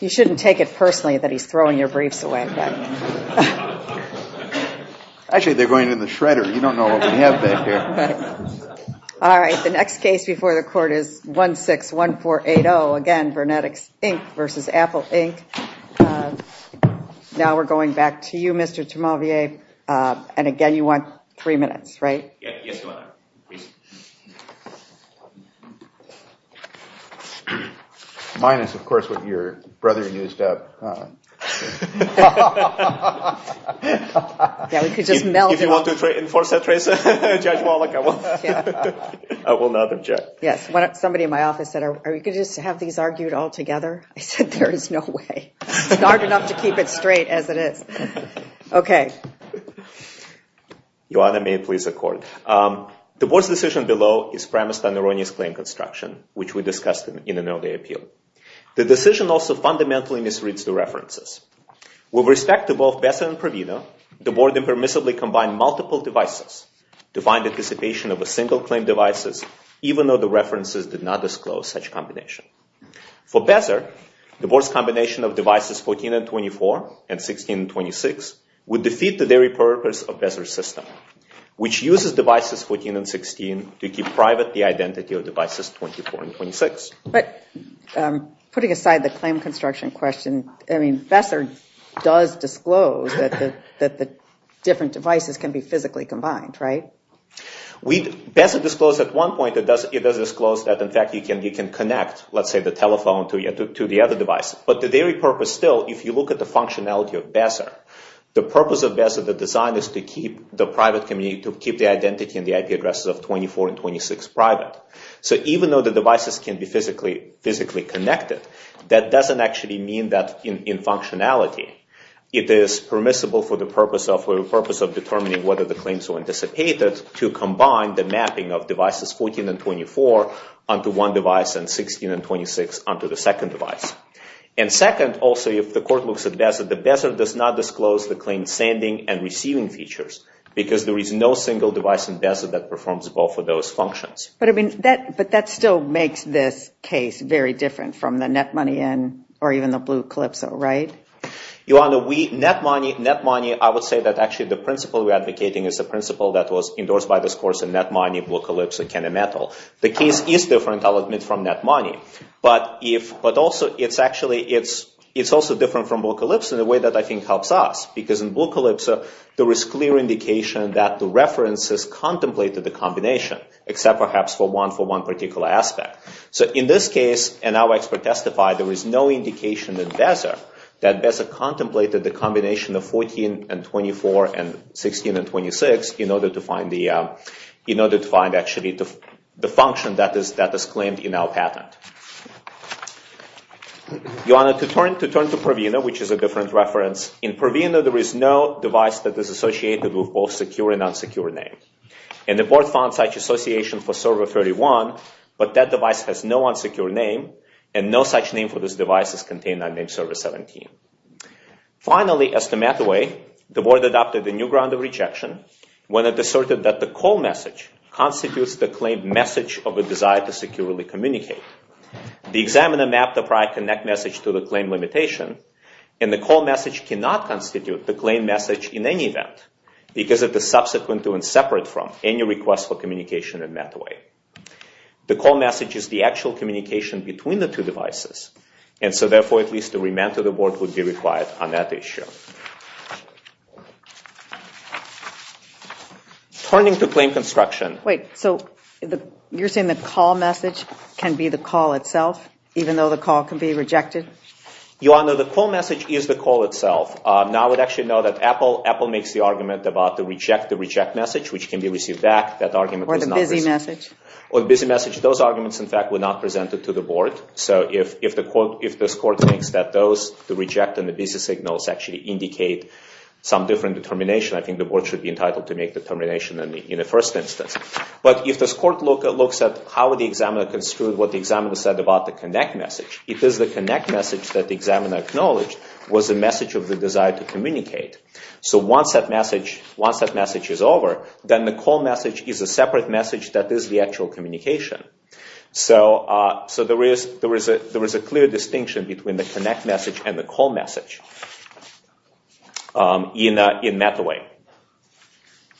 You shouldn't take it personally that he's throwing your briefs away. Actually, they're going in the shredder. You don't know what we have back here. All right, the next case before the court is 161480, again, VernetX Inc. v. Apple, Inc. Now we're going back to you, Mr. Tremellier, and again, you want three minutes, right? Yes, Your Honor, please. Minus, of course, what your brother used up. If you want to enforce that trace, Judge Wallach, I will not object. Yes, somebody in my office said, are we going to just have these argued all together? I said, there is no way. It's hard enough to keep it straight as it is. Okay. Your Honor, may it please the court. The board's decision below is premised on erroneous claim construction, which we discussed in an earlier appeal. The decision also fundamentally misreads the references. With respect to both Besser and Provino, the board impermissibly combined multiple devices to find anticipation of a single claim devices, even though the references did not disclose such combination. For Besser, the board's combination of devices 14 and 24 and 16 and 26 would defeat the very purpose of Besser's system, which uses devices 14 and 16 to keep private the identity of devices 24 and 26. But putting aside the claim construction question, I mean, Besser does disclose that the different devices can be physically combined, right? Besser disclosed at one point that it does disclose that, in fact, you can connect, let's say, the telephone to the other device. But the very purpose still, if you look at the functionality of Besser, the purpose of Besser, the design is to keep the private community, to keep the identity and the IP addresses of 24 and 26 private. So even though the devices can be physically connected, that doesn't actually mean that in functionality, it is permissible for the purpose of determining whether the claims were anticipated to combine the mapping of devices 14 and 24 onto one device and 16 and 26 onto the second device. And second, also, if the court looks at Besser, the Besser does not disclose the claim sending and receiving features because there is no single device in Besser that performs both of those functions. But I mean, that still makes this case very different from the net money in, or even the blue Calypso, right? Your Honor, net money, I would say that actually the principle we're advocating is the principle that was endorsed by this course in net money, blue Calypso, and Canon Metal. The case is different, I'll admit, from net money. But also, it's actually, it's also different from blue Calypso in a way that I think helps us. Because in blue Calypso, there is clear indication that the references contemplated the combination, except perhaps for one particular aspect. So in this case, and our expert testified, there is no indication in Besser that Besser contemplated the combination of 14 and 24 and 16 and 26 in order to find actually the function that is claimed in our patent. Your Honor, to turn to Purvina, which is a different reference, in Purvina, there is no device that is associated with both secure and unsecure name. And the board found such association for server 31, but that device has no unsecure name, and no such name for this device is contained on name server 17. Finally, as to Mattaway, the board adopted a new ground of rejection when it asserted that the call message constitutes the claim message of a desire to securely communicate. The examiner mapped the prior connect message to the claim limitation, and the call message cannot constitute the claim message in any event because of the subsequent to and separate from any request for communication in Mattaway. The call message is the actual communication between the two devices, and so therefore, at least a remand to the board would be required on that issue. Turning to claim construction... Wait, so you're saying the call message can be the call itself, even though the call can be rejected? Your Honor, the call message is the call itself. Now, I would actually note that Apple makes the argument about the reject to reject message, which can be received back. Or the busy message. Or the busy message. Those arguments, in fact, were not presented to the board. So if this court thinks that those, the reject and the busy signals, actually indicate some different determination, I think the board should be entitled to make the determination in the first instance. But if this court looks at how the examiner construed what the examiner said about the connect message, it is the connect message that the examiner acknowledged was the message of the desire to communicate. So once that message is over, then the call message is a separate message that is the actual communication. So there is a clear distinction between the connect message and the call message in Mataway.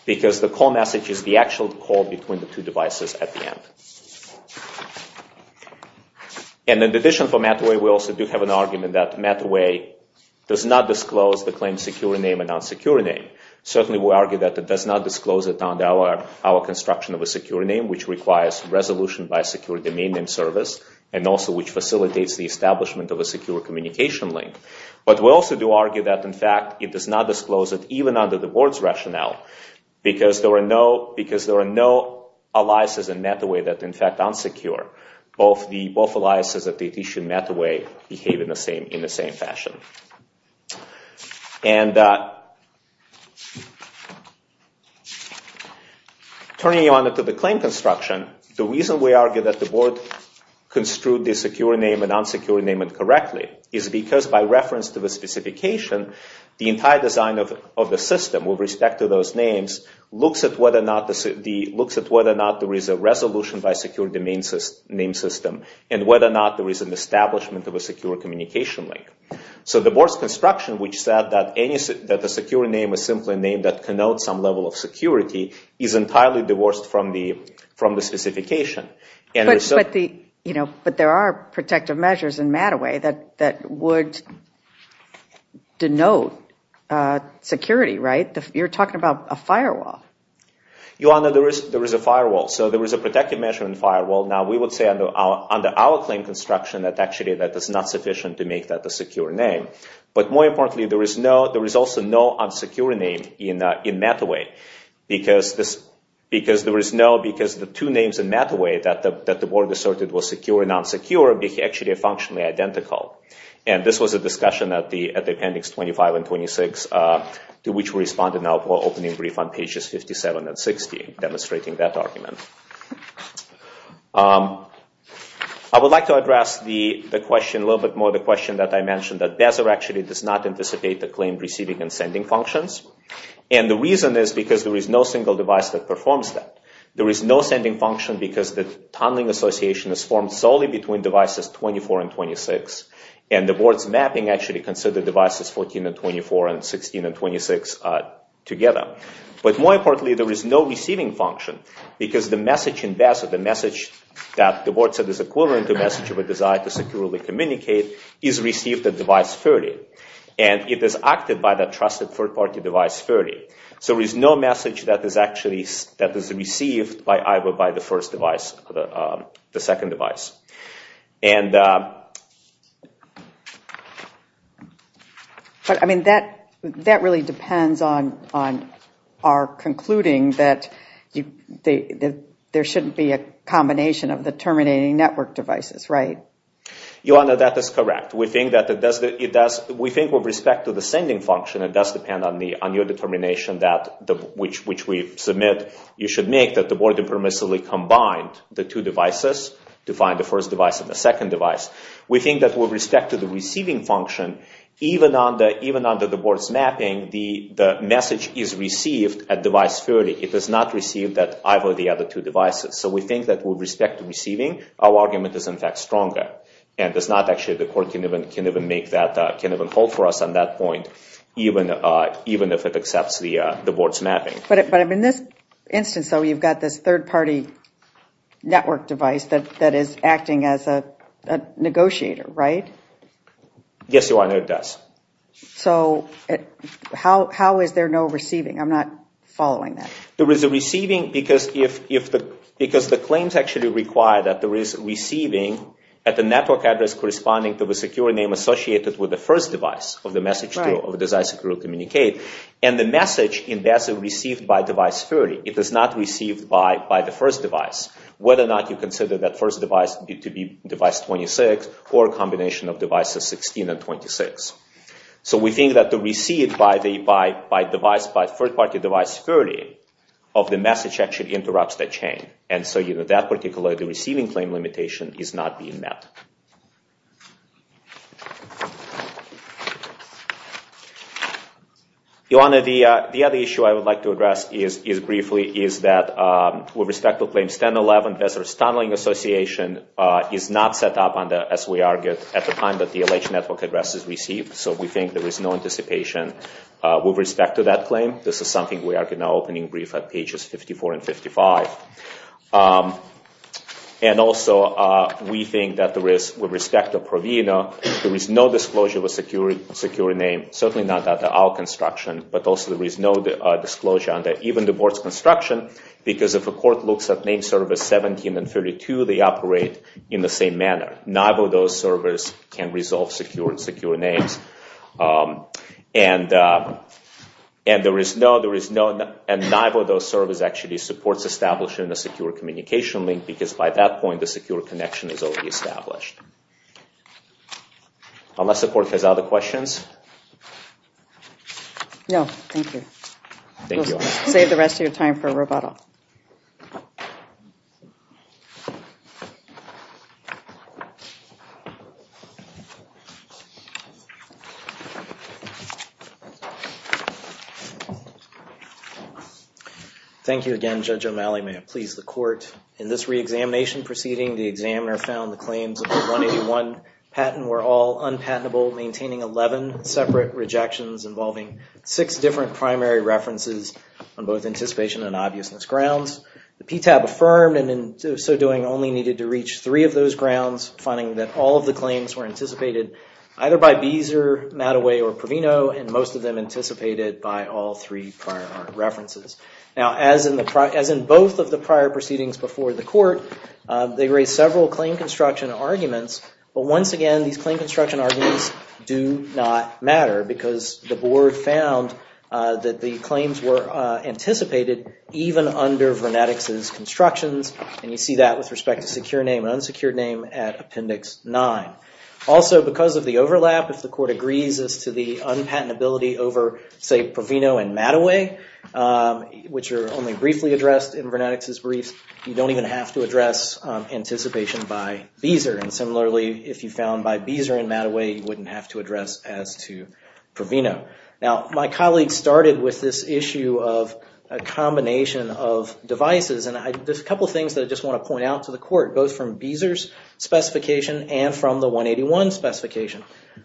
Because the call message is the actual call between the two devices at the end. And in addition for Mataway, we also do have an argument that Mataway does not disclose the claim's secure name and unsecure name. Certainly we argue that it does not disclose it on our construction of a secure name, which requires resolution by a secure domain name service, and also which facilitates the establishment of a secure communication link. But we also do argue that, in fact, it does not disclose it, even under the board's rationale, because there are no aliases in Mataway that are in fact unsecure. Both aliases at the issue in Mataway behave in the same fashion. And turning on to the claim construction, the reason we argue that the board construed the secure name and unsecure name incorrectly is because by reference to the specification, the entire design of the system with respect to those names looks at whether or not there is a resolution by a secure domain name system, and whether or not there is an establishment of a secure communication link. So the board's construction, which said that the secure name is simply a name that connotes some level of security, is entirely divorced from the specification. But there are protective measures in Mataway that would denote security, right? You're talking about a firewall. Your Honor, there is a firewall. So there is a protective measure in the firewall. Now we would say under our claim construction that actually that is not sufficient to make that a secure name. But more importantly, there is also no unsecure name in Mataway because the two names in Mataway that the board asserted were secure and unsecure are actually functionally identical. And this was a discussion at the appendix 25 and 26 to which we responded now for opening brief on pages 57 and 60, demonstrating that argument. I would like to address the question a little bit more, the question that I mentioned that BASR actually does not anticipate the claimed receiving and sending functions. And the reason is because there is no single device that performs that. There is no sending function because the tunneling association is formed solely between devices 24 and 26. And the board's mapping actually considered devices 14 and 24 and 16 and 26 together. But more importantly, there is no receiving function because the message in BASR, the message that the board said is equivalent to a message of a desire to securely communicate is received at device 30. And it is acted by that trusted third-party device 30. So there is no message that is actually received either by the first device or the second device. And... But I mean, that really depends on our concluding that there shouldn't be a combination of the terminating network devices, right? Your Honor, that is correct. We think with respect to the sending function it does depend on your determination which we submit you should make that the board permissibly combined the two devices to find the first device and the second device. We think that with respect to the receiving function even under the board's mapping the message is received at device 30. It does not receive that either of the other two devices. So we think that with respect to receiving our argument is in fact stronger. And the court can't even hold for us on that point even if it accepts the board's mapping. But in this instance though you've got this third-party network device that is acting as a negotiator, right? Yes, Your Honor, it does. So how is there no receiving? I'm not following that. Because the claims actually require that there is receiving at the network address corresponding to the security name associated with the first device and the message is received by device 30. It is not received by the first device. Whether or not you consider that first device to be device 26 or a combination of devices 16 and 26. So we think that the receive by third-party device 30 of the message actually interrupts that chain. And so that particular receiving claim limitation is not being met. Your Honor, the other issue I would like to address is briefly is that with respect to claims 1011, Vessar's Tunneling Association is not set up as we argued at the time that the alleged network address is received. So we think there is no anticipation with respect to that claim. This is something we are now opening brief at pages 54 and 55. And also we think that with respect to Provino there is no disclosure of a secure name. Certainly not under our construction but also there is no disclosure under even the board's construction because if a court looks at name servers 17 and 32 they operate in the same manner. Neither of those servers can resolve secure names. And neither of those servers actually supports establishing a secure communication link because by that point the secure connection is already established. Unless the court has other questions? No, thank you. Thank you, Your Honor. We'll save the rest of your time for Roboto. Thank you, Your Honor. Thank you again, Judge O'Malley. May it please the court. In this reexamination proceeding the examiner found the claims of the 181 patent were all unpatentable maintaining 11 separate rejections involving 6 different primary references on both anticipation and obviousness grounds. The PTAB affirmed and in so doing only needed to reach 3 of those grounds finding that all of the claims were anticipated either by Beezer, Mattaway, or Provino and most of them anticipated by all 3 prior references. Now as in both of the prior proceedings before the court they raised several claim construction arguments but once again these claim construction arguments do not matter because the board found that the claims were anticipated even under Vernetics' constructions and you see that with respect to secure name and unsecured name at Appendix 9. Also because of the overlap if the court agrees as to the unpatentability over say Provino and Mattaway which are only briefly addressed in Vernetics' briefs you don't even have to address anticipation by Beezer and similarly if you found by Beezer and Mattaway you wouldn't have to address as to Provino. Now my colleague started with this issue of a combination of devices and there's a couple of things that I just want to point out to the court both from Beezer's specification and from the 181 specification.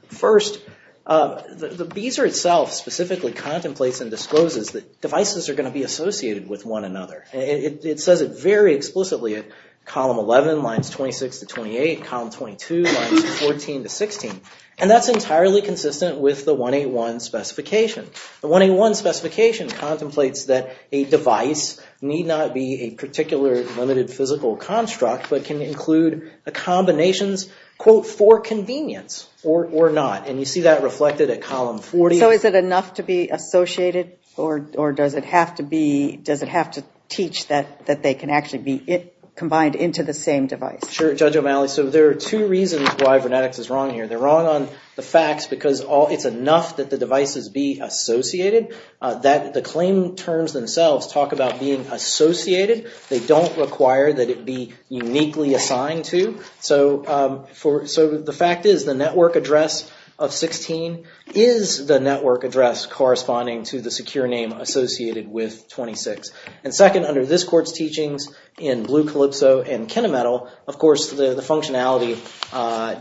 First, the Beezer itself specifically contemplates and discloses that devices are going to be associated with one another. It says it very explicitly at column 11 lines 26 to 28 column 22 lines 14 to 16 and that's entirely consistent with the 181 specification. The 181 specification contemplates that a device need not be a particular limited physical construct but can include a combinations quote for convenience or not, and you see that reflected at column 40. So is it enough to be associated or does it have to teach that they can actually be combined into the same device? Sure Judge O'Malley, so there are two reasons why Vernetics is wrong here. They're wrong on the facts because it's enough that the devices be associated. The claim terms themselves talk about being associated they don't require that it be uniquely assigned to So the fact is the network address of 16 is the network address corresponding to the secure name associated with 26. And second, under this court's teachings in Blue Calypso and KineMetal, of course the functionality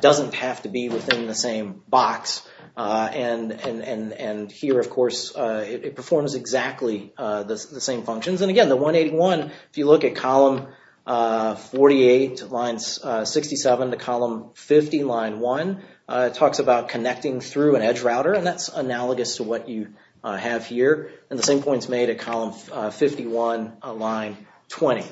doesn't have to be within the same box and here of course it performs exactly the same functions. And again, the 181, if you look at column 48, line 67 to column 50, line 1, talks about connecting through an edge router and that's analogous to what you have here. And the same points made at column 51, line 20.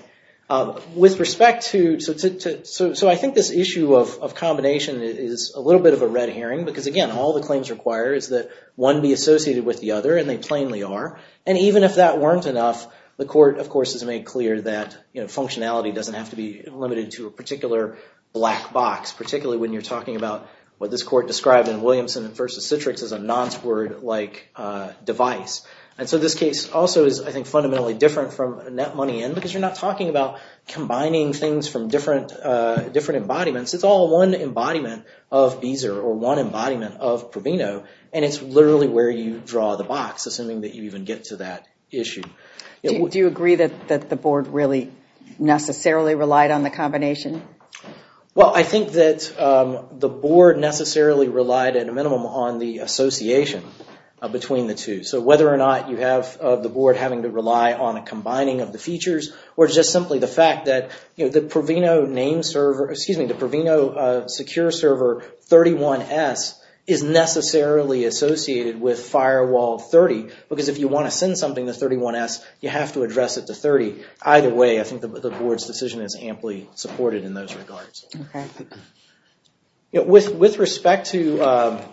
With respect to, so I think this issue of combination is a little bit of a red herring because again, all the claims require is that one be associated with the other and they plainly are. And even if that weren't enough the court, of course, has made clear that functionality doesn't have to be limited to a particular black box particularly when you're talking about what this court described in Williamson v. Citrix as a nonce word like device. And so this case also is, I think, fundamentally different from NetMoneyIn because you're not talking about combining things from different embodiments. It's all one embodiment of Beezer or one embodiment of Proveno and it's literally where you draw the box assuming that you even get to that issue. Do you agree that the board really necessarily relied on the combination? Well, I think that the board necessarily relied at a minimum on the association between the two. So whether or not you have the board having to rely on a combining of the features or just simply the fact that the Proveno secure server 31S is necessarily associated with firewall 30 because if you want to send something to 31S, you have to address it to 30. Either way, I think the board's decision is amply supported in those regards. With respect to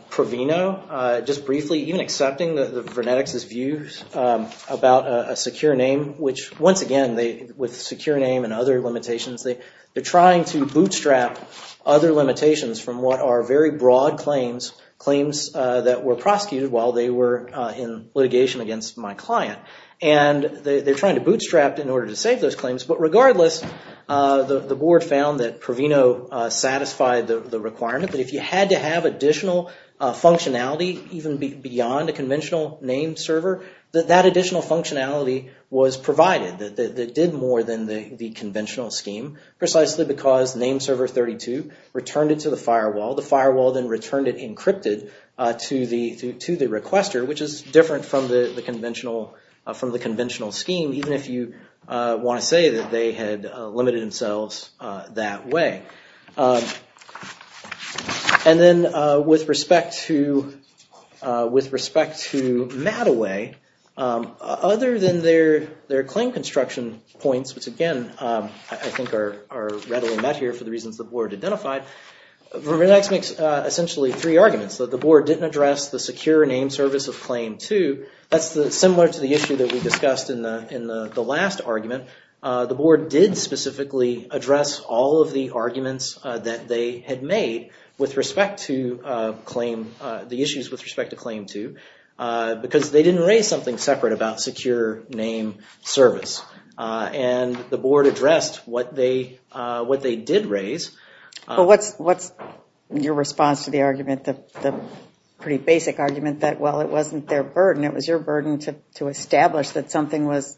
Proveno just briefly, even accepting the Vernetics' views about a secure name, which once again with secure name and other limitations, they're trying to bootstrap other limitations from what are very broad claims, claims that were prosecuted while they were in litigation against my client and they're trying to bootstrap in order to save those claims but regardless, the board found that Proveno satisfied the requirement that if you had to have additional functionality even beyond a conventional name server, that additional functionality was provided that did more than the conventional scheme precisely because the name server 32 returned it to the firewall. The firewall then returned it encrypted to the requester, which is different from the conventional scheme even if you want to say that they had limited themselves that way. And then with respect to Mattaway, other than their claim construction points which again, I think are readily met here for the reasons the board identified, essentially three arguments, that the board didn't address the secure name service of claim 2, that's similar to the issue that we discussed in the last argument the board did specifically address all of the arguments that they had made with respect to claim, the issues with respect to claim 2 because they didn't raise something separate about the secure name service. And the board addressed what they did raise. But what's your response to the argument, the pretty basic argument that while it wasn't their burden, it was your burden to establish that something was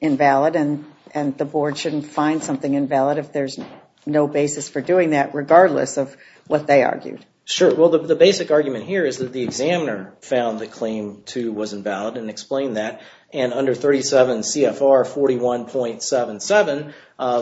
invalid and the board shouldn't find something invalid if there's no basis for doing that regardless of what they argued? Sure, well the basic argument here is that the examiner found that claim 2 wasn't valid and explained that and under 37 CFR 41.77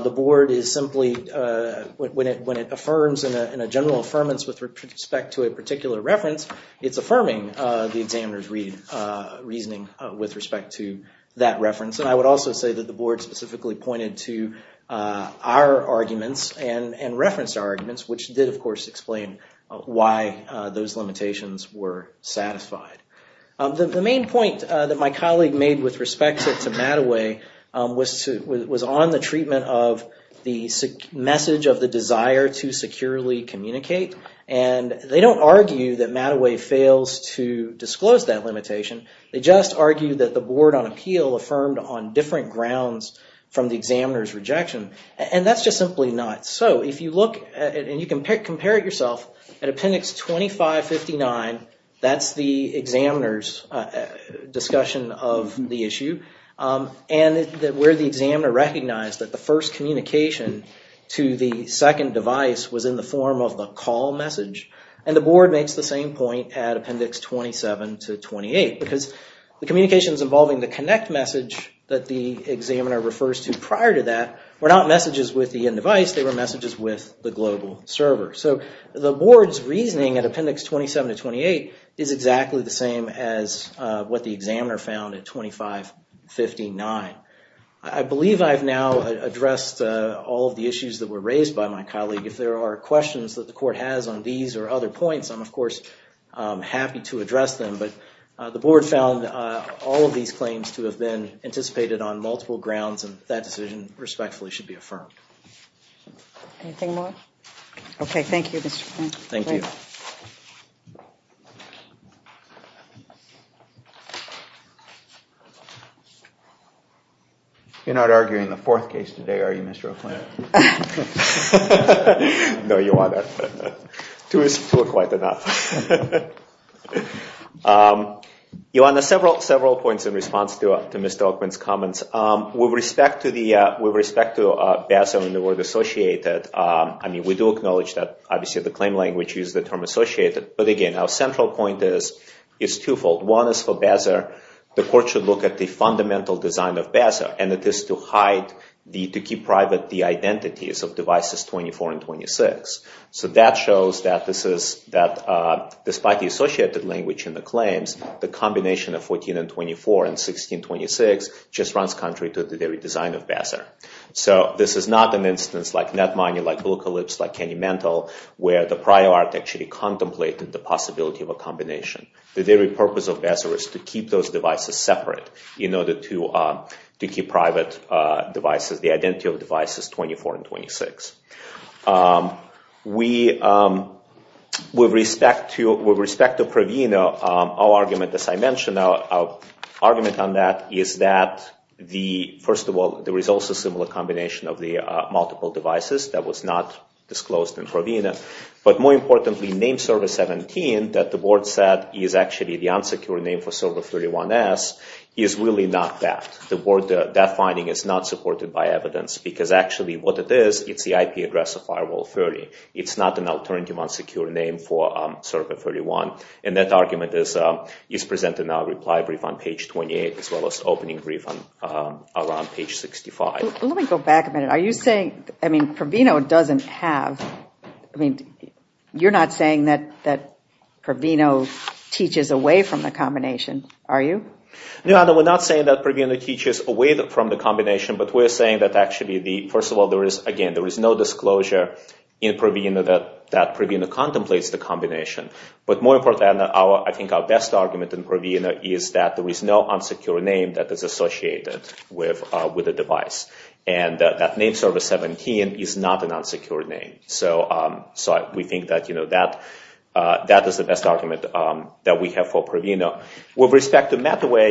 the board is simply when it affirms in a general affirmance with respect to a particular reference, it's affirming the examiner's reasoning with respect to that reference and I would also say that the board specifically pointed to our arguments and referenced our arguments which did of course explain why those limitations were satisfied. The main point that my colleague made with respect to Mattaway was on the treatment of the message of the desire to securely communicate and they don't argue that Mattaway fails to disclose that limitation, they just argue that the board on appeal affirmed on different grounds from the examiner's rejection and that's just simply not so. If you look and you can compare it yourself at Appendix 2559, that's the examiner's discussion of the issue and where the examiner recognized that the first communication to the second device was in the form of the call message and the board makes the same point at Appendix 27 to 28 because the communications involving the connect message that the examiner refers to prior to that were not messages with the end device, they were messages with the global server. So the board's reasoning at Appendix 27 to 28 is exactly the same as what the examiner found at 2559. I believe I've now addressed all of the issues that were raised by my colleague if there are questions that the court has on these or other points I'm of course happy to address them but the board found all of these claims to have been respectfully should be affirmed. Anything more? Okay, thank you Mr. O'Quinn. Thank you. You're not arguing the fourth case today, are you Mr. O'Quinn? No, Your Honor. Two is still quite enough. points in response to Mr. O'Quinn's comments. With respect to BASR and the word associated, I mean we do acknowledge that obviously the claim language uses the term associated but again our central point is twofold. One is for BASR the court should look at the fundamental design of BASR and it is to hide, to keep private the identities of devices 24 and 26. So that shows that despite the associated language in the claims, the combination of the very purpose of BASR is to keep those devices separate in order to keep private devices, the identity of devices 24 and 26. With respect to Pravino, our argument BASR is not an instance where the prior art actually contemplated First of all, there is also a similar combination of the multiple devices that was not disclosed in Pravino but more importantly, name server 17 that the board said is actually the unsecured name for server 31S is really not that. That finding is not supported by evidence because actually what it is, it's the IP address of firewall 30. It's not an alternative unsecured name for server 31 and that argument is presented in our reply brief on page 28 as well as opening brief on page 65. Let me go back a minute, are you saying Pravino doesn't have you're not saying that Pravino teaches away from the combination, are you? No, we're not saying that Pravino teaches away from the combination but we're saying that first of all there is no disclosure in Pravino that Pravino contemplates the combination but more importantly, I think our best argument in Pravino is that there is no unsecured name that is associated with the device and that name server 17 is not an unsecured name so we think that is the best argument that we have for Pravino With respect to Mataway,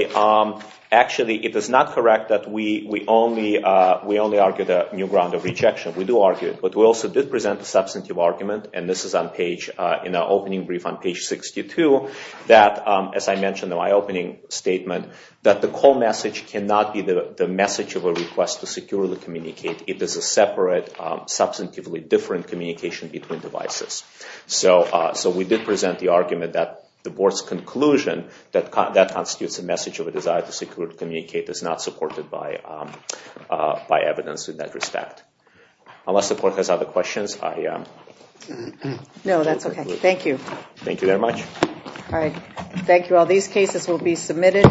actually it is not correct that we only argued a new ground of rejection, we do argue it but we also did present a substantive argument and this is in our opening brief on page 62 that as I mentioned in my opening statement that the call message cannot be the message of a request to securely communicate, it is a separate substantively different communication between devices so we did present the argument that the board's conclusion that constitutes a message of a desire to securely communicate is not supported by evidence in that respect Unless the board has other questions No, that's okay, thank you Thank you very much